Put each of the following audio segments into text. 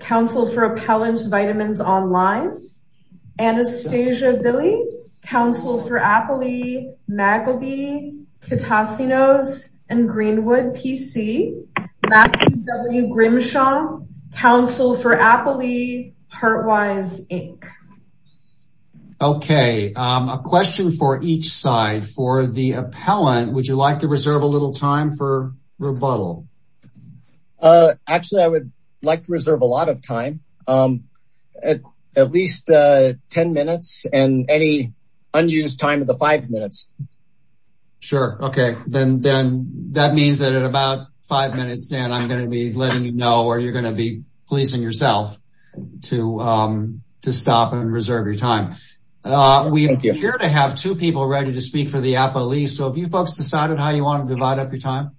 Council for Appellant Vitamins Online. Anastasia Billy. Council for Appley, Magleby, Kitasinos, and Greenwood, PC. Matthew W. Grimshaw. Council for Appley, HEARTWISE, INC. Okay, a question for each side. For the appellant, would you like to reserve a little time for rebuttal? Actually, I would like to reserve a lot of time, at least 10 minutes, and any unused time of the five minutes. Sure, okay. Then that means that at about five minutes, Dan, I'm going to be letting you know, or you're going to be pleasing yourself to stop and reserve your time. We appear to have two people ready to speak for the appellee. So have you folks decided how you want to divide up your time?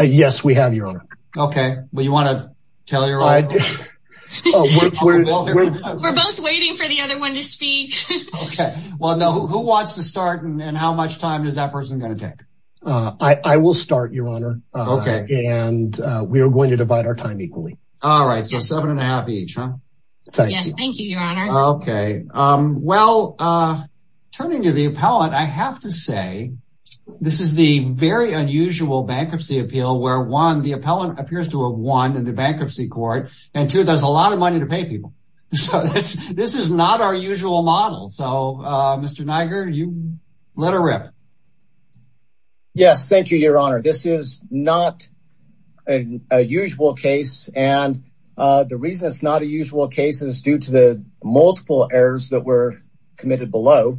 Yes, we have, Your Honor. Okay, well, you want to tell your own story? We're both waiting for the other one to speak. Okay, well, who wants to start and how much time is that person going to take? I will start, Your Honor. Okay. And we are going to divide our time equally. All right, so seven and a half each, huh? Thank you. Yes, thank you, Your Honor. Okay, well, turning to the appellant, I have to say this is the very unusual bankruptcy appeal where one, the appellant appears to have won in the bankruptcy court, and two, there's a lot of money to pay people. So this is not our usual model. So Mr. Niger, you let her rip. Yes, thank you, Your Honor. This is not a usual case. And the reason it's not a usual case is due to the multiple errors that were committed below.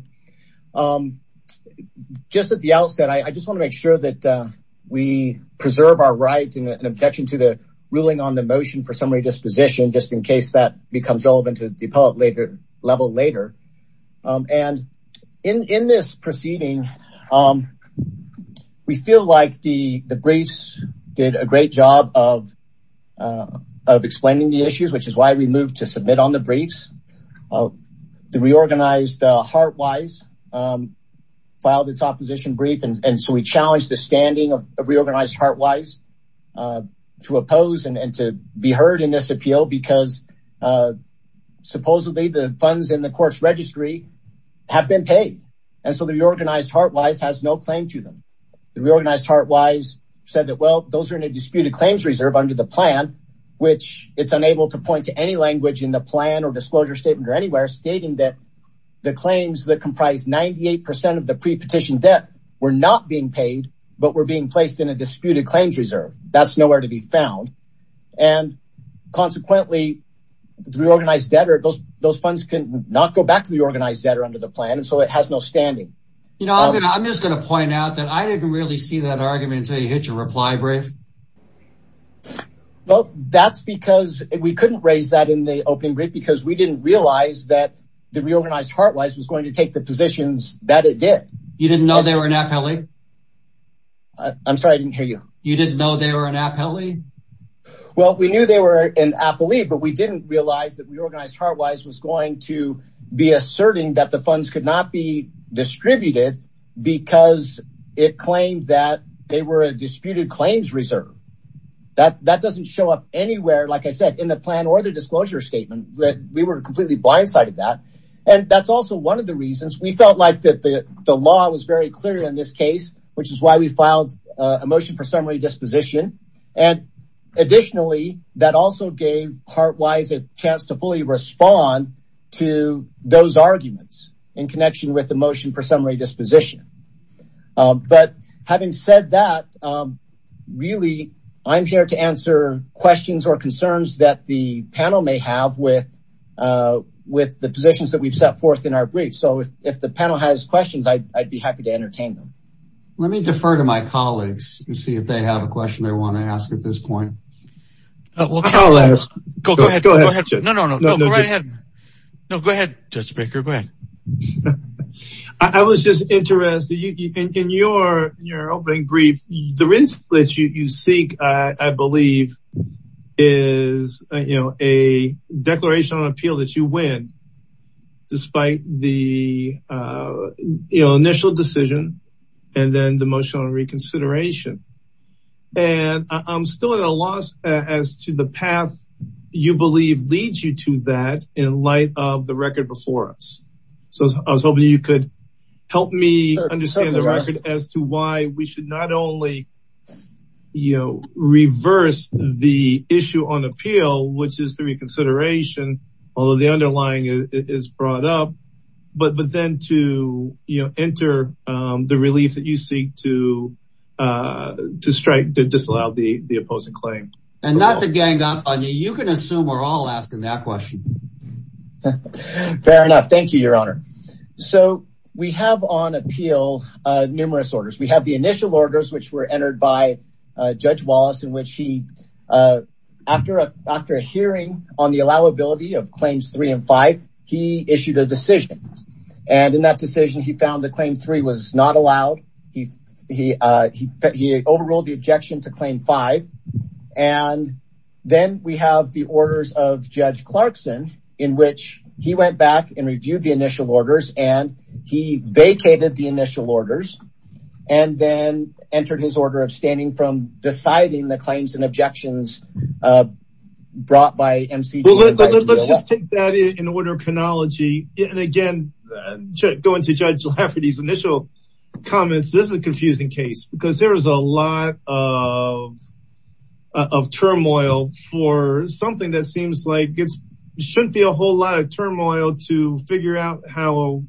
Just at the outset, I just want to make sure that we preserve our right and objection to the ruling on the motion for summary disposition, just in case that becomes relevant to the appellate level later. And in this proceeding, we feel like the briefs did a great job of explaining the issues, which is why we moved to submit on the briefs. The reorganized Heartwise filed its opposition brief. And so we challenged the standing of the reorganized Heartwise to oppose and to be heard in this appeal because supposedly the funds in the court's registry have been paid. And so the reorganized Heartwise has no claim to them. The reorganized Heartwise said that, well, those are in a disputed claims reserve under the plan, which it's unable to point to any language in the plan or disclosure statement or anywhere stating that the claims that comprise 98% of the pre-petition debt were not being paid, but were being placed in a disputed claims reserve. That's nowhere to be found. And consequently, the reorganized debtor, those funds can not go back to the organized debtor under the plan. And so it has no standing. You know, I'm just going to point out that I didn't really see that argument until you hit your reply brief. Well, that's because we couldn't raise that in the opening brief because we didn't realize that the reorganized Heartwise was going to take the positions that it did. You didn't know they were an appellee? I'm sorry, I didn't hear you. You didn't know they were an appellee? Well, we knew they were an appellee, but we didn't realize that reorganized Heartwise was going to be asserting that the funds could not be distributed because it claimed that they were a disputed claims reserve. That doesn't show up anywhere, like I said, in the plan or the disclosure statement that we were completely blindsided that. And that's also one of the reasons we felt like that the law was very clear in this case, which is why we filed a motion for summary disposition. And additionally, that also gave Heartwise a chance to fully respond to those arguments in connection with the motion for summary disposition. But having said that, really, I'm here to answer questions or concerns that the panel may have with the positions that we've set forth in our brief. So if the panel has questions, I'd be happy to entertain them. Let me defer to my colleagues and see if they have a question they want to ask at this point. Well, I'll ask. Go ahead. No, no, no, go right ahead. No, go ahead, Judge Baker, go ahead. I was just interested, in your opening brief, the reason that you seek, I believe, is a declaration on appeal that you win, despite the initial decision, and then the motion on reconsideration. And I'm still at a loss as to the path you believe leads you to that in light of the record before us. So I was hoping you could help me understand the record as to why we should not only reverse the issue on appeal, which is the reconsideration, although the underlying is brought up, but then to enter the relief that you seek to strike, to disallow the opposing claim. And not to gang up on you, you can assume we're all asking that question. Fair enough, thank you, Your Honor. So we have on appeal numerous orders. We have the initial orders, which were entered by Judge Wallace, in which he, after a hearing on the allowability of Claims 3 and 5, he issued a decision. And in that decision, he found that Claim 3 was not allowed. He overruled the objection to Claim 5. And then we have the orders of Judge Clarkson, in which he went back and reviewed the initial orders, and he vacated the initial orders, and then entered his order of standing from deciding the claims and objections brought by MCG. Let's just take that in order of chronology. And again, going to Judge Lafferty's initial comments, this is a confusing case, because there was a lot of turmoil for something that seems like it shouldn't be a whole lot of turmoil to figure out how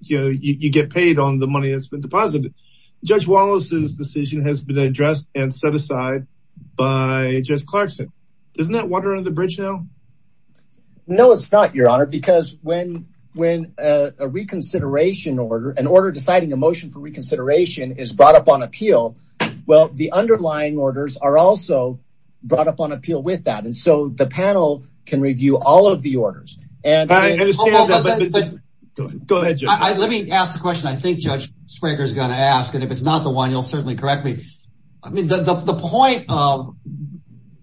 you get paid on the money that's been deposited. Judge Wallace's decision has been addressed and set aside by Judge Clarkson. Isn't that water under the bridge now? No, it's not, Your Honor, because when a reconsideration order, an order deciding a motion for reconsideration is brought up on appeal, well, the underlying orders are also brought up on appeal with that. And so the panel can review all of the orders. And- I understand that, but- Go ahead, Judge. Let me ask the question I think Judge Springer's gonna ask, and if it's not the one, you'll certainly correct me. I mean, the point of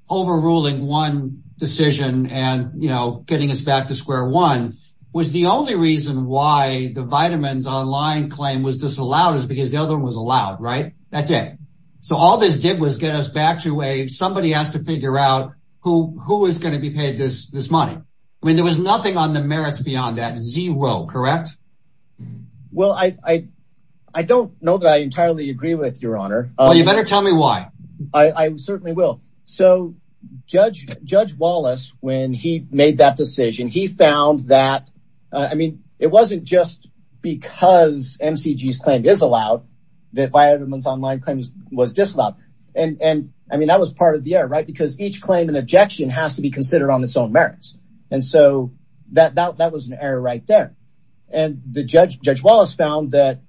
overruling one decision and getting us back to square one was the only reason why the Vitamins Online claim was disallowed is because the other one was allowed, right? That's it. So all this did was get us back to a, somebody has to figure out who is gonna be paid this money. I mean, there was nothing on the merits beyond that, zero, correct? Well, I don't know that I entirely agree with, Your Honor. Well, you better tell me why. I certainly will. So Judge Wallace, when he made that decision, he found that, I mean, it wasn't just because MCG's claim is allowed, that Vitamins Online claim was disallowed. And I mean, that was part of the error, right? Because each claim and objection has to be considered on its own merits. And so that was an error right there. And Judge Wallace found that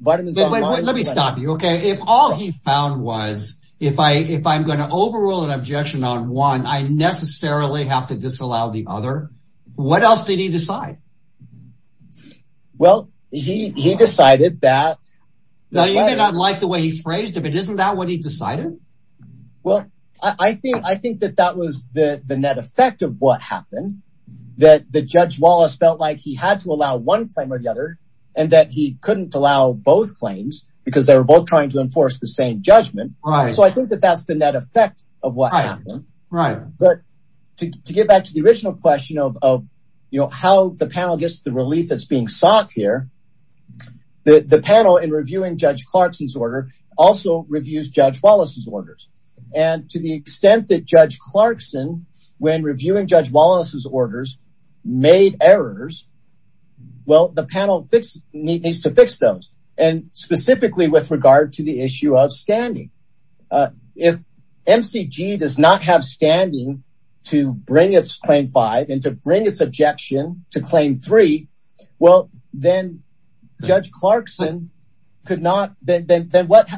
Vitamins Online- Let me stop you, okay? If all he found was, if I'm gonna overrule an objection on one, I necessarily have to disallow the other. What else did he decide? Well, he decided that- Now, you may not like the way he phrased it, but isn't that what he decided? Well, I think that that was the net effect of what happened, that Judge Wallace felt like he had to allow one claim or the other, and that he couldn't allow both claims because they were both trying to enforce the same judgment. So I think that that's the net effect of what happened. But to get back to the original question of how the panel gets the relief that's being sought here, the panel, in reviewing Judge Clarkson's order, also reviews Judge Wallace's orders. And to the extent that Judge Clarkson, when reviewing Judge Wallace's orders, made errors, well, the panel needs to fix those. And specifically with regard to the issue of standing. If MCG does not have standing to bring its Claim 5 and to bring its objection to Claim 3, well, then Judge Clarkson could not, then what's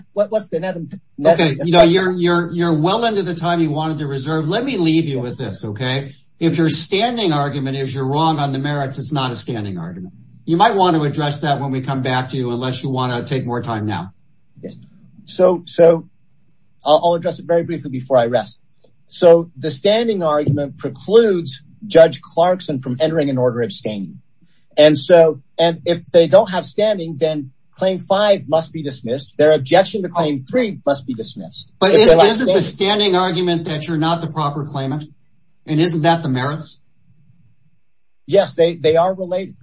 the net effect? Okay, you're well into the time you wanted to reserve. Let me leave you with this, okay? If your standing argument is you're wrong on the merits, it's not a standing argument. You might want to address that when we come back to you, unless you want to take more time now. Yes, so I'll address it very briefly before I rest. So the standing argument precludes Judge Clarkson from entering an order of standing. And so, and if they don't have standing, then Claim 5 must be dismissed. Their objection to Claim 3 must be dismissed. But is it the standing argument that you're not the proper claimant? And isn't that the merits? Yes, they are related.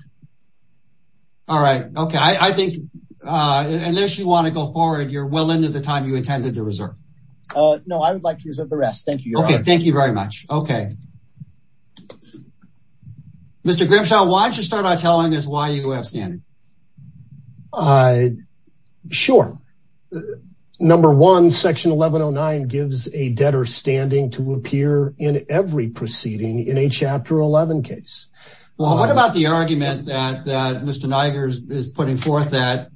All right, okay, I think, unless you want to go forward, you're well into the time you intended to reserve. No, I would like to reserve the rest. Thank you, Your Honor. Okay, thank you very much. Okay. Mr. Grimshaw, why don't you start by telling us why you have standing? Sure. Number one, Section 1109 gives a debtor standing to appear in every proceeding in a Chapter 11 case. Well, what about the argument that Mr. Nigers is putting forth that,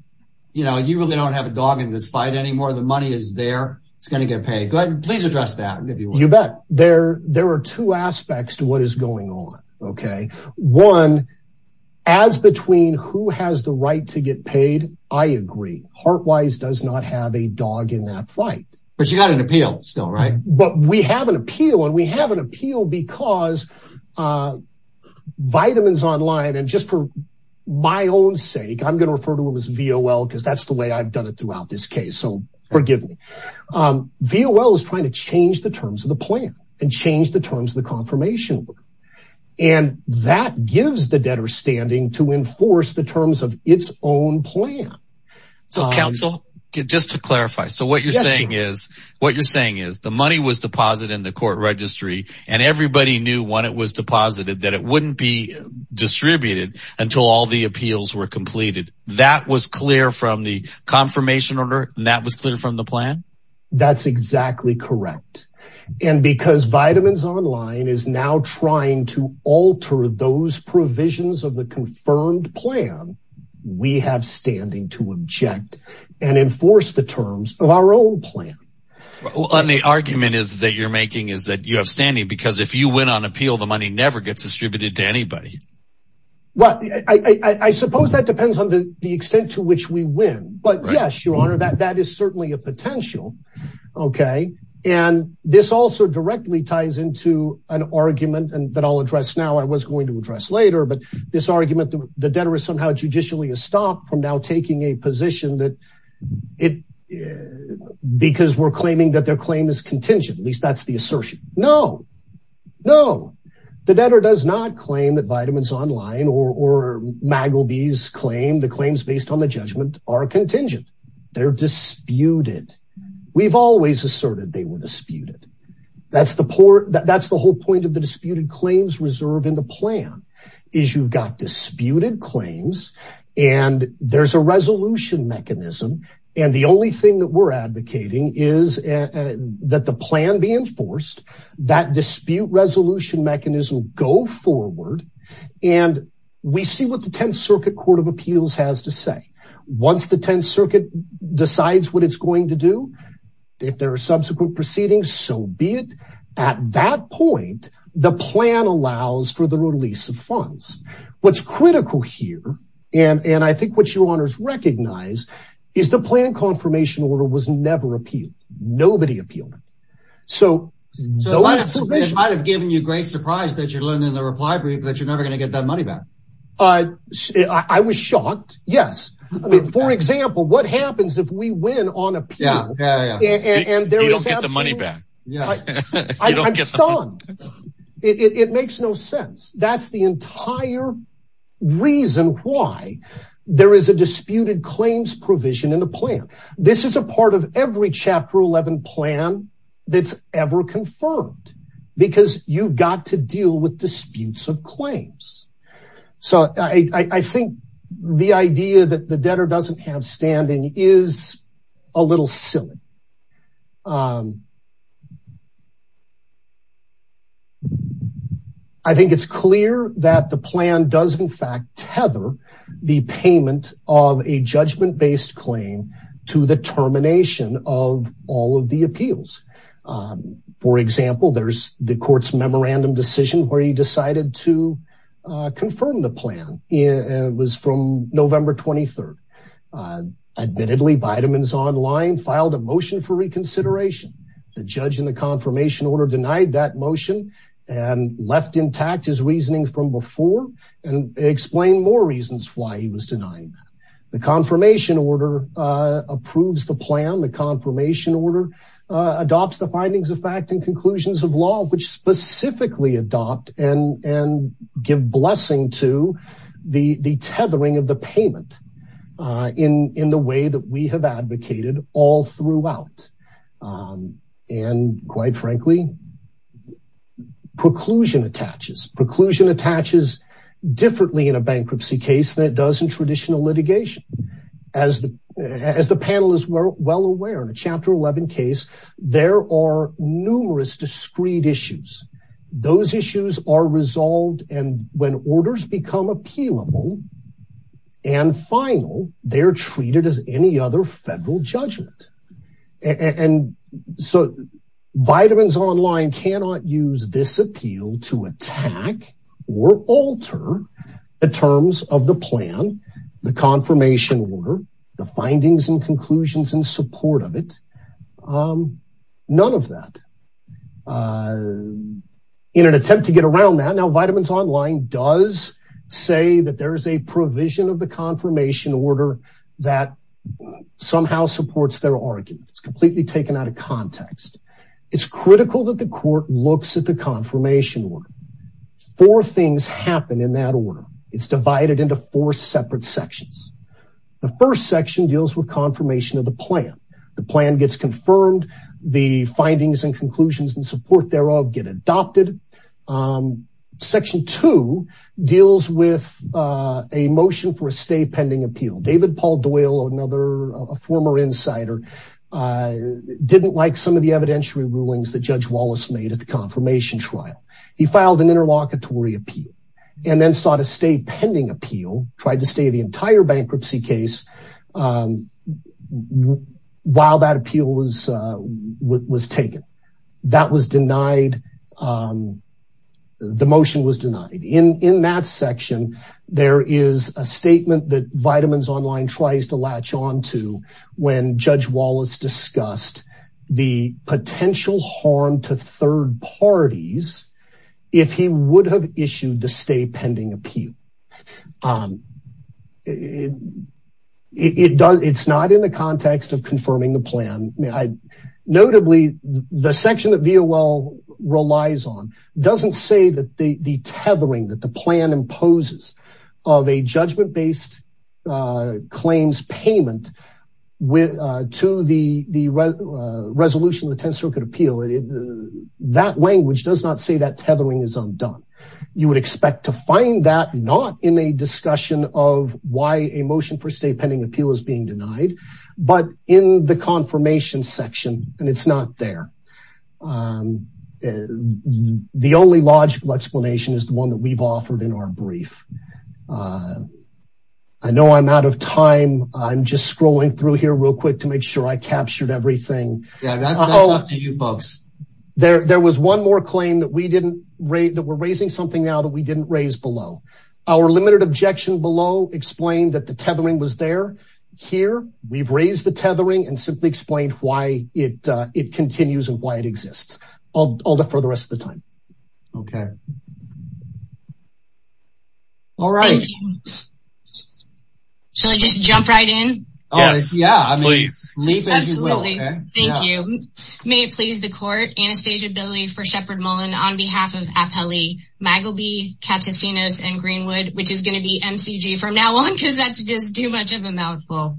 you know, you really don't have a dog in this fight anymore. The money is there. It's going to get paid. Please address that, if you will. You bet. There are two aspects to what is going on, okay? One, as between who has the right to get paid, I agree. Heart Wise does not have a dog in that fight. But you got an appeal still, right? But we have an appeal, and we have an appeal because Vitamins Online, and just for my own sake, I'm going to refer to them as VOL, because that's the way I've done it throughout this case. So forgive me. VOL is trying to change the terms of the plan and change the terms of the confirmation order. And that gives the debtor standing to enforce the terms of its own plan. So counsel, just to clarify. So what you're saying is, what you're saying is the money was deposited in the court registry, and everybody knew when it was deposited that it wouldn't be distributed until all the appeals were completed. That was clear from the confirmation order, and that was clear from the plan? That's exactly correct. And because Vitamins Online is now trying to alter those provisions of the confirmed plan, we have standing to object and enforce the terms of our own plan. Well, and the argument that you're making is that you have standing, because if you win on appeal, the money never gets distributed to anybody. Well, I suppose that depends on the extent to which we win. But yes, Your Honor, that is certainly a potential, okay? And this also directly ties into an argument that I'll address now, I was going to address later, but this argument that the debtor is somehow judicially a stop from now taking a position that it, because we're claiming that their claim is contingent, at least that's the assertion. No, no, the debtor does not claim that Vitamins Online or Magleby's claim, the claims based on the judgment are contingent. They're disputed. We've always asserted they were disputed. That's the whole point of the disputed claims reserve in the plan is you've got disputed claims and there's a resolution mechanism. And the only thing that we're advocating is that the plan be enforced, that dispute resolution mechanism go forward. And we see what the 10th Circuit Court of Appeals has to say. Once the 10th Circuit decides what it's going to do, if there are subsequent proceedings, so be it. At that point, the plan allows for the release of funds. What's critical here, and I think what Your Honors recognize is the plan confirmation order was never appealed. Nobody appealed it. So- It might've given you great surprise that you're learning the reply brief that you're never going to get that money back. I was shocked, yes. I mean, for example, what happens if we win on appeal- Yeah, yeah, yeah. And there is absolutely- You don't get the money back. Yeah. You don't get the money- I'm stunned. It makes no sense. That's the entire reason why there is a disputed claims provision in the plan. This is a part of every Chapter 11 plan that's ever confirmed because you've got to deal with disputes of claims. So I think the idea that the debtor doesn't have standing is a little silly. I think it's clear that the plan does in fact tether the payment of a judgment-based claim to the termination of all of the appeals. For example, there's the court's memorandum decision where he decided to confirm the plan. It was from November 23rd. Admittedly, Vitamins Online filed a motion for reconsideration. The judge in the confirmation order denied that motion and left intact his reasoning from before and explained more reasons why he was denying that. The confirmation order approves the plan. The confirmation order adopts the findings of fact and conclusions of law, which specifically adopt and give blessing to the tethering of the payment in the way that we have advocated all throughout. And quite frankly, preclusion attaches. Preclusion attaches differently in a bankruptcy case than it does in traditional litigation. As the panel is well aware in a Chapter 11 case, there are numerous discreet issues. Those issues are resolved and when orders become appealable and final, they're treated as any other federal judgment. And so Vitamins Online cannot use this appeal to attack or alter the terms of the plan, the confirmation order, the findings and conclusions in support of it, none of that. In an attempt to get around that, now Vitamins Online does say that there's a provision of the confirmation order that somehow supports their argument. It's completely taken out of context. It's critical that the court looks at the confirmation order. Four things happen in that order. It's divided into four separate sections. The first section deals with confirmation of the plan. The plan gets confirmed, the findings and conclusions and support thereof get adopted. Section two deals with a motion for a stay pending appeal. David Paul Doyle, another, a former insider didn't like some of the evidentiary rulings that Judge Wallace made at the confirmation trial. He filed an interlocutory appeal and then sought a stay pending appeal, tried to stay the entire bankruptcy case while that appeal was taken. That was denied, the motion was denied. In that section, there is a statement that Vitamins Online tries to latch onto when Judge Wallace discussed the potential harm to third parties if he would have issued the stay pending appeal. It's not in the context of confirming the plan. Notably, the section that VOL relies on doesn't say that the tethering that the plan imposes of a judgment-based claims payment to the resolution of the 10th Circuit Appeal, that language does not say that tethering is undone. You would expect to find that not in a discussion of why a motion for a stay pending appeal is being denied, but in the confirmation section, and it's not there. The only logical explanation is the one that we've offered in our brief. I know I'm out of time. I'm just scrolling through here real quick to make sure I captured everything. Yeah, that's up to you folks. There was one more claim that we're raising something now that we didn't raise below. Our limited objection below explained that the tethering was there. Here, we've raised the tethering and simply explained why it continues and why it exists. I'll defer the rest of the time. Okay. All right. Shall I just jump right in? Yes, please. Leave as you will. Thank you. May it please the court, Anastasia Billy for Shepard Mullen on behalf of Apelli, Magleby, Cattacinos, and Greenwood, which is gonna be MCG from now on because that's just too much of a mouthful.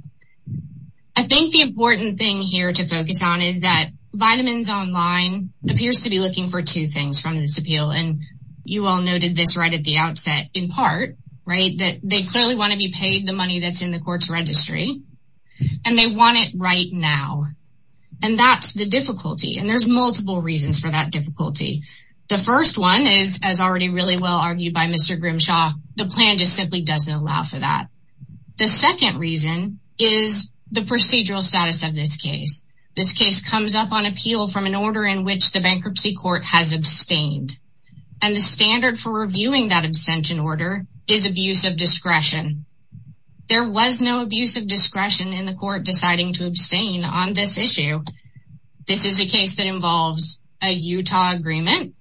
I think the important thing here to focus on is that Vitamins Online appears to be looking for two things from this appeal, and you all noted this right at the outset in part, right? That they clearly wanna be paid the money that's in the court's registry, and they want it right now. And that's the difficulty. And there's multiple reasons for that difficulty. The first one is as already really well argued by Mr. Grimshaw, the plan just simply doesn't allow for that. The second reason is the procedural status of this case. This case comes up on appeal from an order in which the bankruptcy court has abstained. And the standard for reviewing that abstention order is abuse of discretion. There was no abuse of discretion in the court deciding to abstain on this issue. This is a case that involves a Utah agreement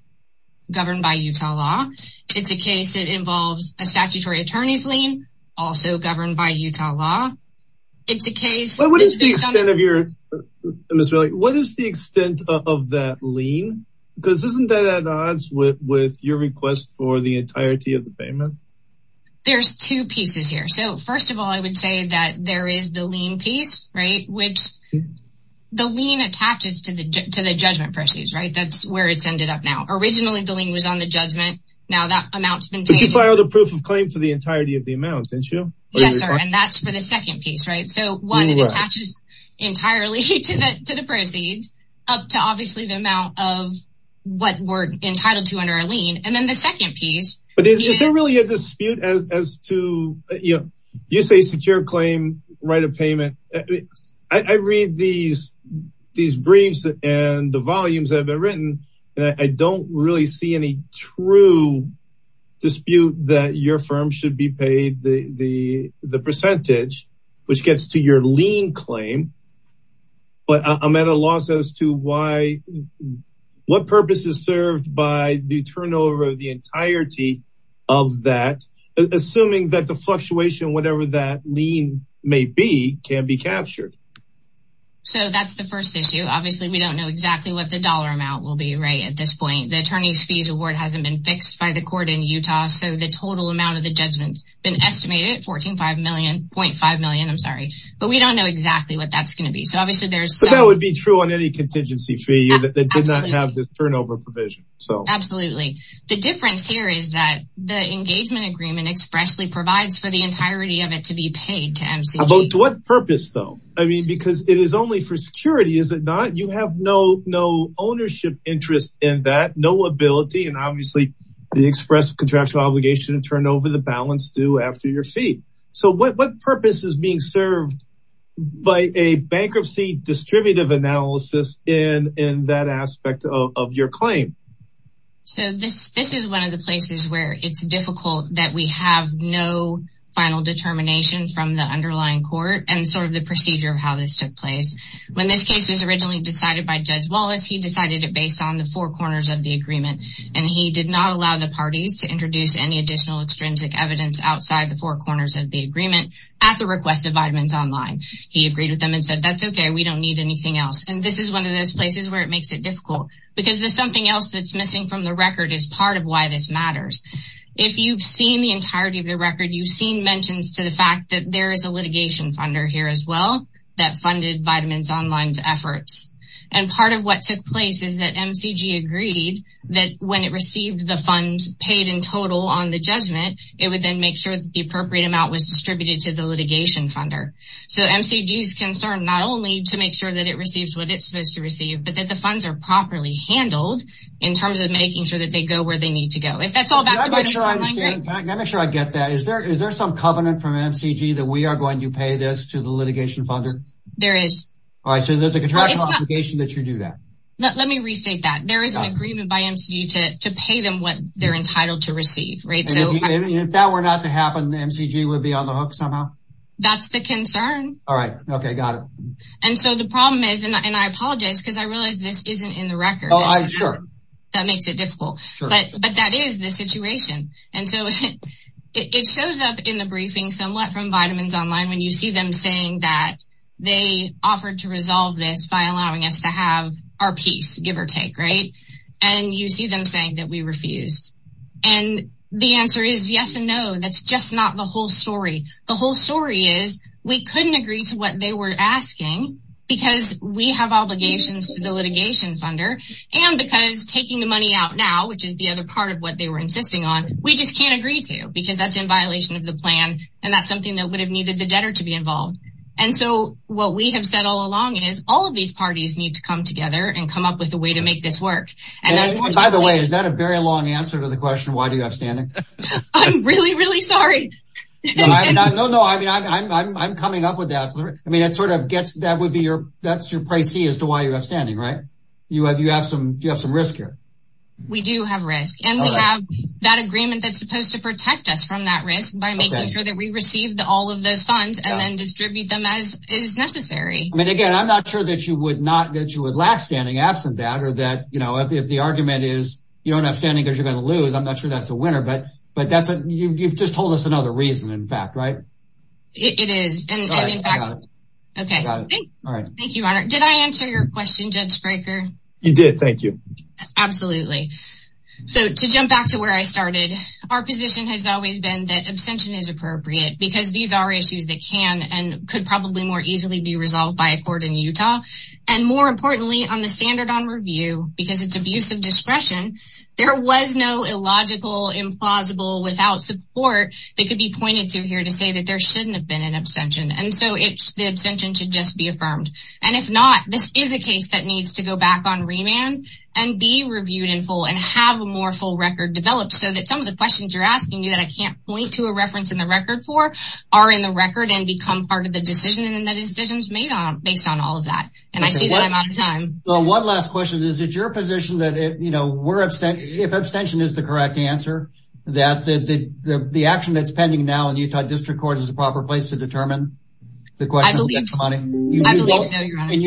governed by Utah law. It's a case that involves a statutory attorney's lien also governed by Utah law. It's a case- I hear, Ms. Riley, what is the extent of that lien? Because isn't that at odds with your request for the entirety of the payment? There's two pieces here. So first of all, I would say that there is the lien piece, right, which the lien attaches to the judgment proceeds, right, that's where it's ended up now. Originally, the lien was on the judgment. Now that amount's been paid- But you filed a proof of claim for the entirety of the amount, didn't you? Yes, sir, and that's for the second piece, right? So one, it attaches entirely to the proceeds up to obviously the amount of what we're entitled to under a lien, and then the second piece- But is there really a dispute as to, you know, you say secure claim, right of payment. I read these briefs and the volumes that have been written, and I don't really see any true dispute that your firm should be paid the percentage, which gets to your lien claim, but I'm at a loss as to what purpose is served by the turnover of the entirety of that, assuming that the fluctuation, whatever that lien may be, can be captured. So that's the first issue. Obviously, we don't know exactly what the dollar amount will be, right, at this point. The attorney's fees award hasn't been fixed by the court in Utah, so the total amount of the judgment's an estimated 14.5 million, I'm sorry, but we don't know exactly what that's gonna be. So obviously there's- But that would be true on any contingency fee that did not have this turnover provision, so- Absolutely. The difference here is that the engagement agreement expressly provides for the entirety of it to be paid to MCG. But to what purpose though? I mean, because it is only for security, is it not? You have no ownership interest in that, no ability, and obviously the express contractual obligation to turn over the balance due after your fee. So what purpose is being served by a bankruptcy distributive analysis in that aspect of your claim? So this is one of the places where it's difficult that we have no final determination from the underlying court and sort of the procedure of how this took place. When this case was originally decided by Judge Wallace, he decided it based on the four corners of the agreement, and he did not allow the parties to introduce any additional extrinsic evidence outside the four corners of the agreement at the request of Vitamins Online. He agreed with them and said, that's okay, we don't need anything else. And this is one of those places where it makes it difficult because there's something else that's missing from the record as part of why this matters. If you've seen the entirety of the record, you've seen mentions to the fact that there is a litigation funder here as well that funded Vitamins Online's efforts. And part of what took place is that MCG agreed that when it received the funds paid in total on the judgment, it would then make sure that the appropriate amount was distributed to the litigation funder. So MCG's concerned not only to make sure that it receives what it's supposed to receive, but that the funds are properly handled in terms of making sure that they go where they need to go. If that's all about the Vitamins Online- Can I make sure I get that? Is there some covenant from MCG that we are going to pay this to the litigation funder? There is. All right, so there's a contractual obligation that you do that. Let me restate that. There is an agreement by MCG to pay them what they're entitled to receive, right? So- And if that were not to happen, MCG would be on the hook somehow? That's the concern. All right, okay, got it. And so the problem is, and I apologize because I realize this isn't in the record. Oh, I'm sure. That makes it difficult, but that is the situation. And so it shows up in the briefing somewhat from Vitamins Online when you see them saying that they offered to resolve this by allowing us to have our peace, give or take, right? And you see them saying that we refused. And the answer is yes and no. That's just not the whole story. The whole story is we couldn't agree to what they were asking because we have obligations to the litigation funder and because taking the money out now, which is the other part of what they were insisting on, we just can't agree to because that's in violation of the plan. And that's something that would have needed the debtor to be involved. And so what we have said all along is all of these parties need to come together and come up with a way to make this work. And then- And by the way, is that a very long answer to the question, why do you have standing? I'm really, really sorry. No, no, no. I mean, I'm coming up with that. I mean, that sort of gets, that would be your, that's your pricey as to why you have standing, right? You have some risk here. We do have risk. And we have that agreement that's supposed to protect us from that risk by making sure that we received all of those funds and then distribute them as is necessary. I mean, again, I'm not sure that you would not, that you would lack standing absent that, or that, you know, if the argument is you don't have standing because you're gonna lose, I'm not sure that's a winner, but that's, you've just told us another reason, in fact, right? It is. And in fact- Okay. All right. Thank you, Your Honor. Did I answer your question, Judge Fraker? You did. Thank you. Absolutely. So to jump back to where I started, our position has always been that abstention is appropriate because these are issues that can and could probably more easily be resolved by a court in Utah. And more importantly, on the standard on review, because it's abuse of discretion, there was no illogical, implausible, without support that could be pointed to here to say that there shouldn't have been an abstention. And so the abstention should just be affirmed. And if not, this is a case that needs to go back on remand and be reviewed in full and have a more full record developed so that some of the questions you're asking me that I can't point to a reference in the record for are in the record and become part of the decision and the decisions made based on all of that. And I see that I'm out of time. Well, one last question is, is it your position that if abstention is the correct answer, that the action that's pending now in Utah District Court is the proper place to determine the question? I believe so, Your Honor. In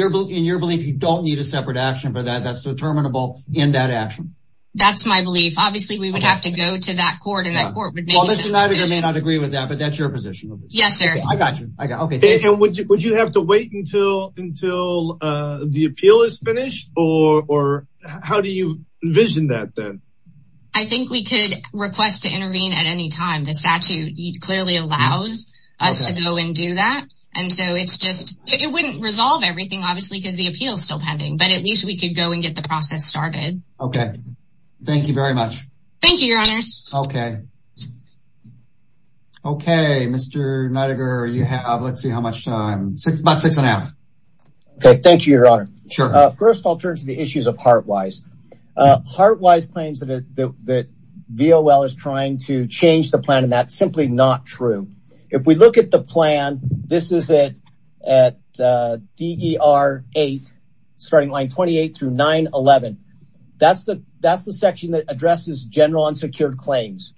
your belief, you don't need a separate action for that? That's determinable in that action? That's my belief. Obviously, we would have to go to that court and that court would be able to- Well, Mr. Niediger may not agree with that, but that's your position. Yes, sir. I got you. And would you have to wait until the appeal is finished or how do you envision that then? I think we could request to intervene at any time. The statute clearly allows us to go and do that. And so it's just, it wouldn't resolve everything, obviously, because the appeal is still pending, but at least we could go and get the process started. Okay. Thank you very much. Thank you, Your Honors. Okay. Okay, Mr. Niediger, you have, let's see how much time, about six and a half. Okay, thank you, Your Honor. Sure. First, I'll turn to the issues of Heart Wise. Heart Wise claims that VOL is trying to change the plan and that's simply not true. If we look at the plan, this is it at DER 8, starting line 28 through 9-11. That's the section that addresses general unsecured claims.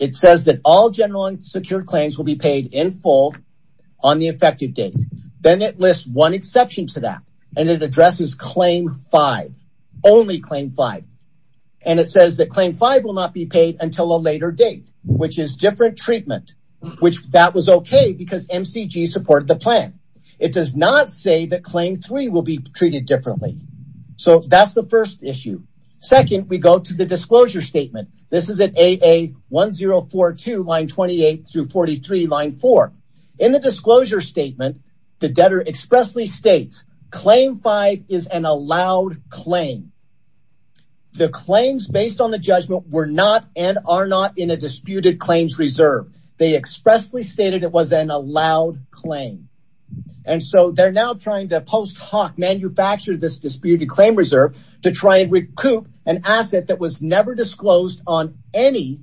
It says that all general unsecured claims will be paid in full on the effective date. Then it lists one exception to that and it addresses claim five, only claim five. And it says that claim five will not be paid until a later date, which is different treatment, which that was okay because MCG supported the plan. It does not say that claim three will be treated differently. So that's the first issue. Second, we go to the disclosure statement. This is at AA1042, line 28 through 43, line four. In the disclosure statement, the debtor expressly states, claim five is an allowed claim. The claims based on the judgment were not and are not in a disputed claims reserve. They expressly stated it was an allowed claim. And so they're now trying to post hoc, manufacture this disputed claim reserve to try and recoup an asset that was never disclosed on any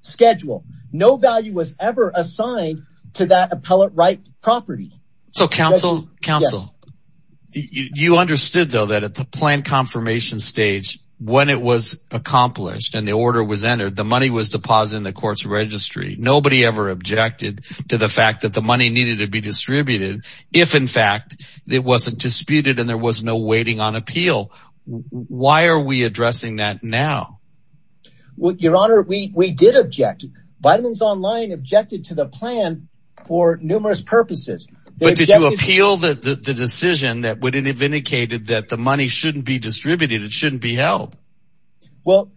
schedule. No value was ever assigned to that appellate right property. So counsel, you understood though that at the plan confirmation stage, when it was accomplished and the order was entered, the money was deposited in the court's registry. Nobody ever objected to the fact that the money needed to be distributed. If in fact it wasn't disputed and there was no waiting on appeal, why are we addressing that now? Your honor, we did object. Vitamins Online objected to the plan for numerous purposes. But did you appeal the decision that would have indicated that the money shouldn't be distributed, it shouldn't be held? Well,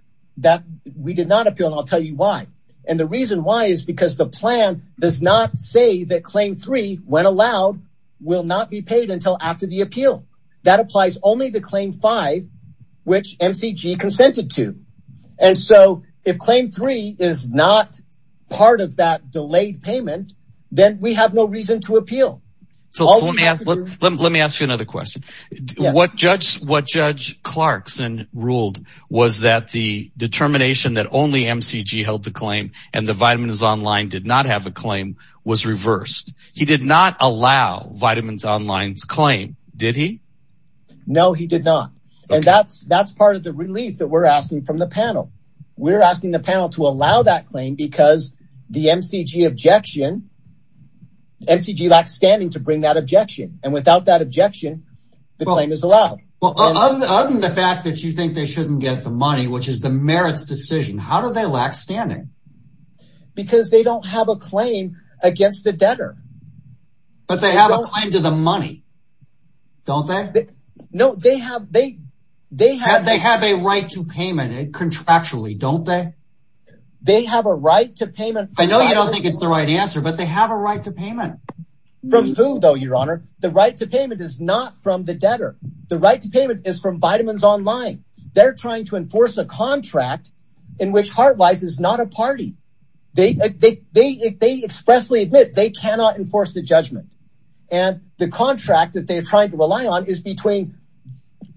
we did not appeal and I'll tell you why. And the reason why is because the plan does not say that claim three, when allowed, will not be paid until after the appeal. That applies only to claim five, which MCG consented to. And so if claim three is not part of that delayed payment, then we have no reason to appeal. So let me ask you another question. What Judge Clarkson ruled was that the determination that only MCG held the claim and the Vitamins Online did not have a claim was reversed. He did not allow Vitamins Online's claim, did he? No, he did not. And that's part of the relief that we're asking from the panel. We're asking the panel to allow that claim because the MCG objection, MCG lacks standing to bring that objection. And without that objection, the claim is allowed. Well, other than the fact that you think they shouldn't get the money, which is the merits decision, how do they lack standing? Because they don't have a claim against the debtor. But they have a claim to the money, don't they? No, they have, they have- They have a right to payment contractually, don't they? They have a right to payment- I know you don't think it's the right answer, but they have a right to payment. From who though, your honor? The right to payment is not from the debtor. The right to payment is from Vitamins Online. They're trying to enforce a contract in which Heartwise is not a party. They expressly admit they cannot enforce the judgment. And the contract that they are trying to rely on is between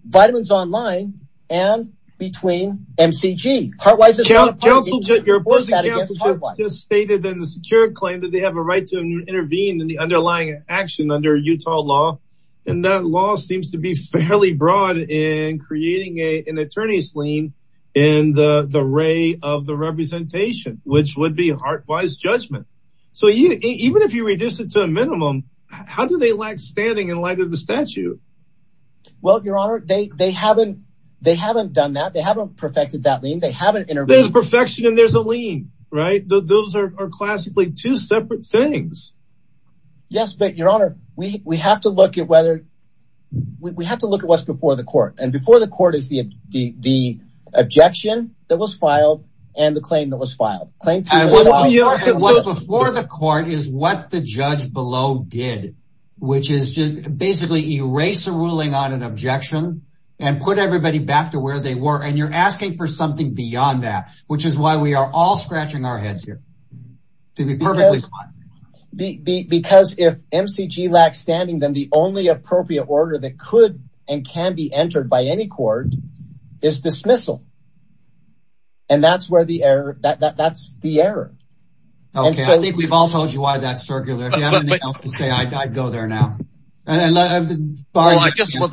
Vitamins Online and between MCG. Heartwise is not a party. Your opposing counsel just stated in the secure claim that they have a right to intervene in the underlying action under Utah law. And that law seems to be fairly broad in creating an attorney's lien in the ray of the representation, which would be Heartwise judgment. So even if you reduce it to a minimum, how do they lack standing in light of the statute? Well, your honor, they haven't done that. They haven't perfected that lien. They haven't intervened- There's perfection and there's a lien, right? Those are classically two separate things. Yes, but your honor, we have to look at whether, we have to look at what's before the court. And before the court is the objection that was filed and the claim that was filed. Claim- And what's before the court is what the judge below did, which is just basically erase a ruling on an objection and put everybody back to where they were. And you're asking for something beyond that, which is why we are all scratching our heads here to be perfectly clear. Because if MCG lacks standing, then the only appropriate order that could and can be entered by any court is dismissal. And that's where the error, that's the error. And so- Okay, I think we've all told you why that's circular. If you have anything else to say, I'd go there now. And Barney- Well, I just want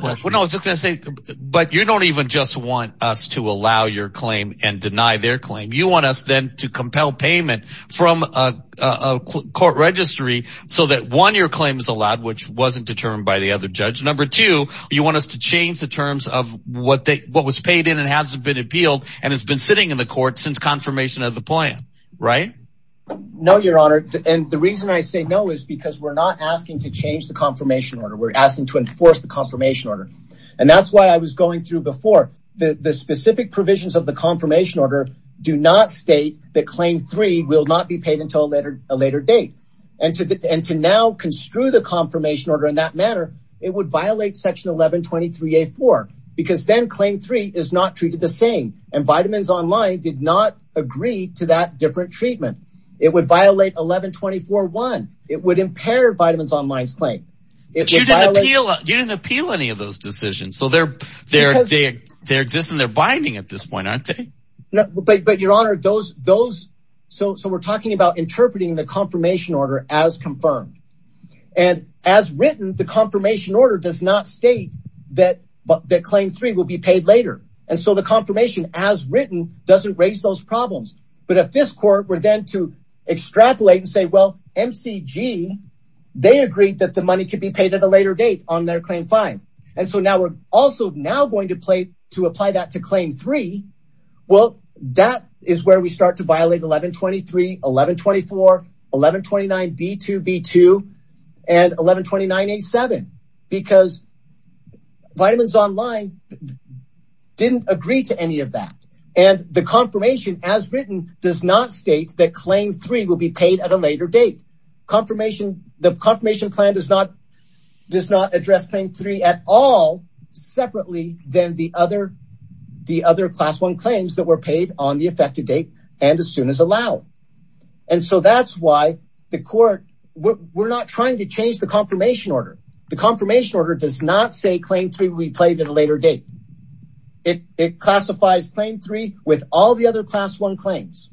to say, but you don't even just want us to allow your claim and deny their claim. You want us then to compel payment from a court registry so that one, your claim is allowed, which wasn't determined by the other judge. Number two, you want us to change the terms of what was paid in and hasn't been appealed and has been sitting in the court since confirmation of the plan, right? No, your honor. And the reason I say no is because we're not asking to change the confirmation order. We're asking to enforce the confirmation order. And that's why I was going through before. The specific provisions of the confirmation order do not state that claim three will not be paid until a later date. And to now construe the confirmation order in that manner, it would violate section 1123A-4 because then claim three is not treated the same. And Vitamins Online did not agree to that different treatment. It would violate 1124-1. It would impair Vitamins Online's claim. It would violate- But you didn't appeal any of those decisions. So they're existing, they're binding at this point, aren't they? No, but your honor, those, so we're talking about interpreting the confirmation order as confirmed. And as written, the confirmation order does not state that claim three will be paid later. And so the confirmation as written doesn't raise those problems. But if this court were then to extrapolate and say, well, MCG, they agreed that the money could be paid at a later date on their claim five. And so now we're also now going to play to apply that to claim three. Well, that is where we start to violate 1123, 1124, 1129B2B2, and 1129A7, because Vitamins Online didn't agree to any of that. And the confirmation as written does not state that claim three will be paid at a later date. Confirmation, the confirmation plan does not, does not address claim three at all separately than the other class one claims that were paid on the effective date and as soon as allowed. And so that's why the court, we're not trying to change the confirmation order. The confirmation order does not say claim three will be paid at a later date. It classifies claim three with all the other class one claims.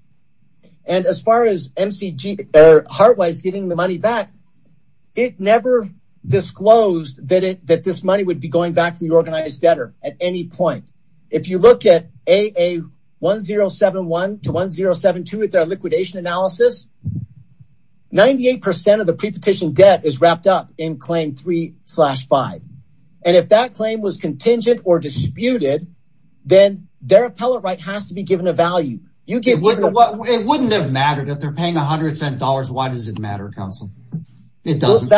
And as far as MCG or Heartwise getting the money back, it never disclosed that this money would be going back to the organized debtor at any point. If you look at AA1071 to 1072 at their liquidation analysis, 98% of the pre-petition debt is wrapped up in claim three slash five. And if that claim was contingent or disputed, then their appellate right has to be given a value. You give- It wouldn't have mattered if they're paying a hundred cent dollars, why does it matter, counsel? It doesn't.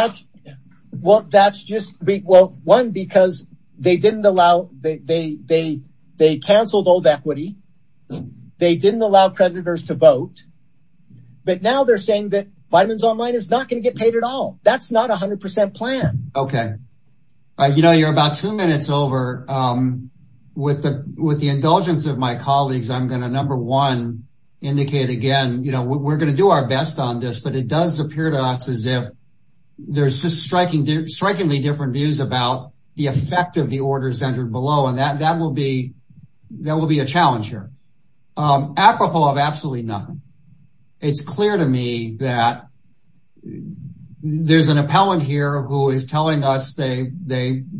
Well, that's just, well, one, because they canceled old equity. They didn't allow creditors to vote. But now they're saying that Vitamins Online is not gonna get paid at all. That's not a hundred percent plan. Okay. You know, you're about two minutes over. With the indulgence of my colleagues, I'm gonna number one, indicate again, we're gonna do our best on this, but it does appear to us as if there's just striking, strikingly different views about the effect of the orders entered below. And that will be a challenge here. Apropos of absolutely nothing, it's clear to me that there's an appellant here who is telling us they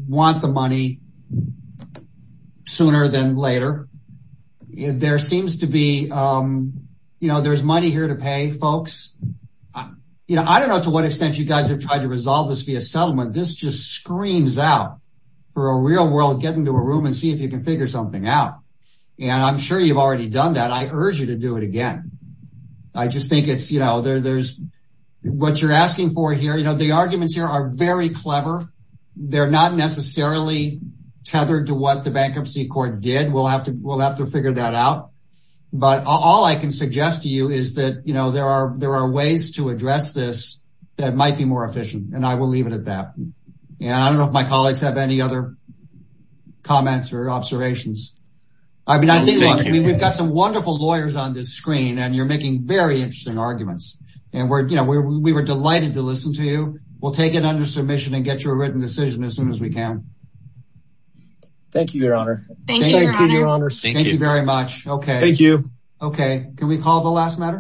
want the money sooner than later. There seems to be, you know, there's money here to pay folks. You know, I don't know to what extent you guys have tried to resolve this via settlement. This just screams out for a real world, get into a room and see if you can figure something out. And I'm sure you've already done that. I urge you to do it again. I just think it's, you know, there's what you're asking for here. You know, the arguments here are very clever. They're not necessarily tethered to what the bankruptcy court did. We'll have to figure that out. But all I can suggest to you is that, you know, there are ways to address this that might be more efficient and I will leave it at that. And I don't know if my colleagues have any other comments or observations. I mean, I think we've got some wonderful lawyers on this screen and you're making very interesting arguments. And we're, you know, we were delighted to listen to you. We'll take it under submission and get you a written decision as soon as we can. Thank you, Your Honor. Thank you, Your Honor. Thank you, Your Honor. Thank you. Okay, can we call the last matter?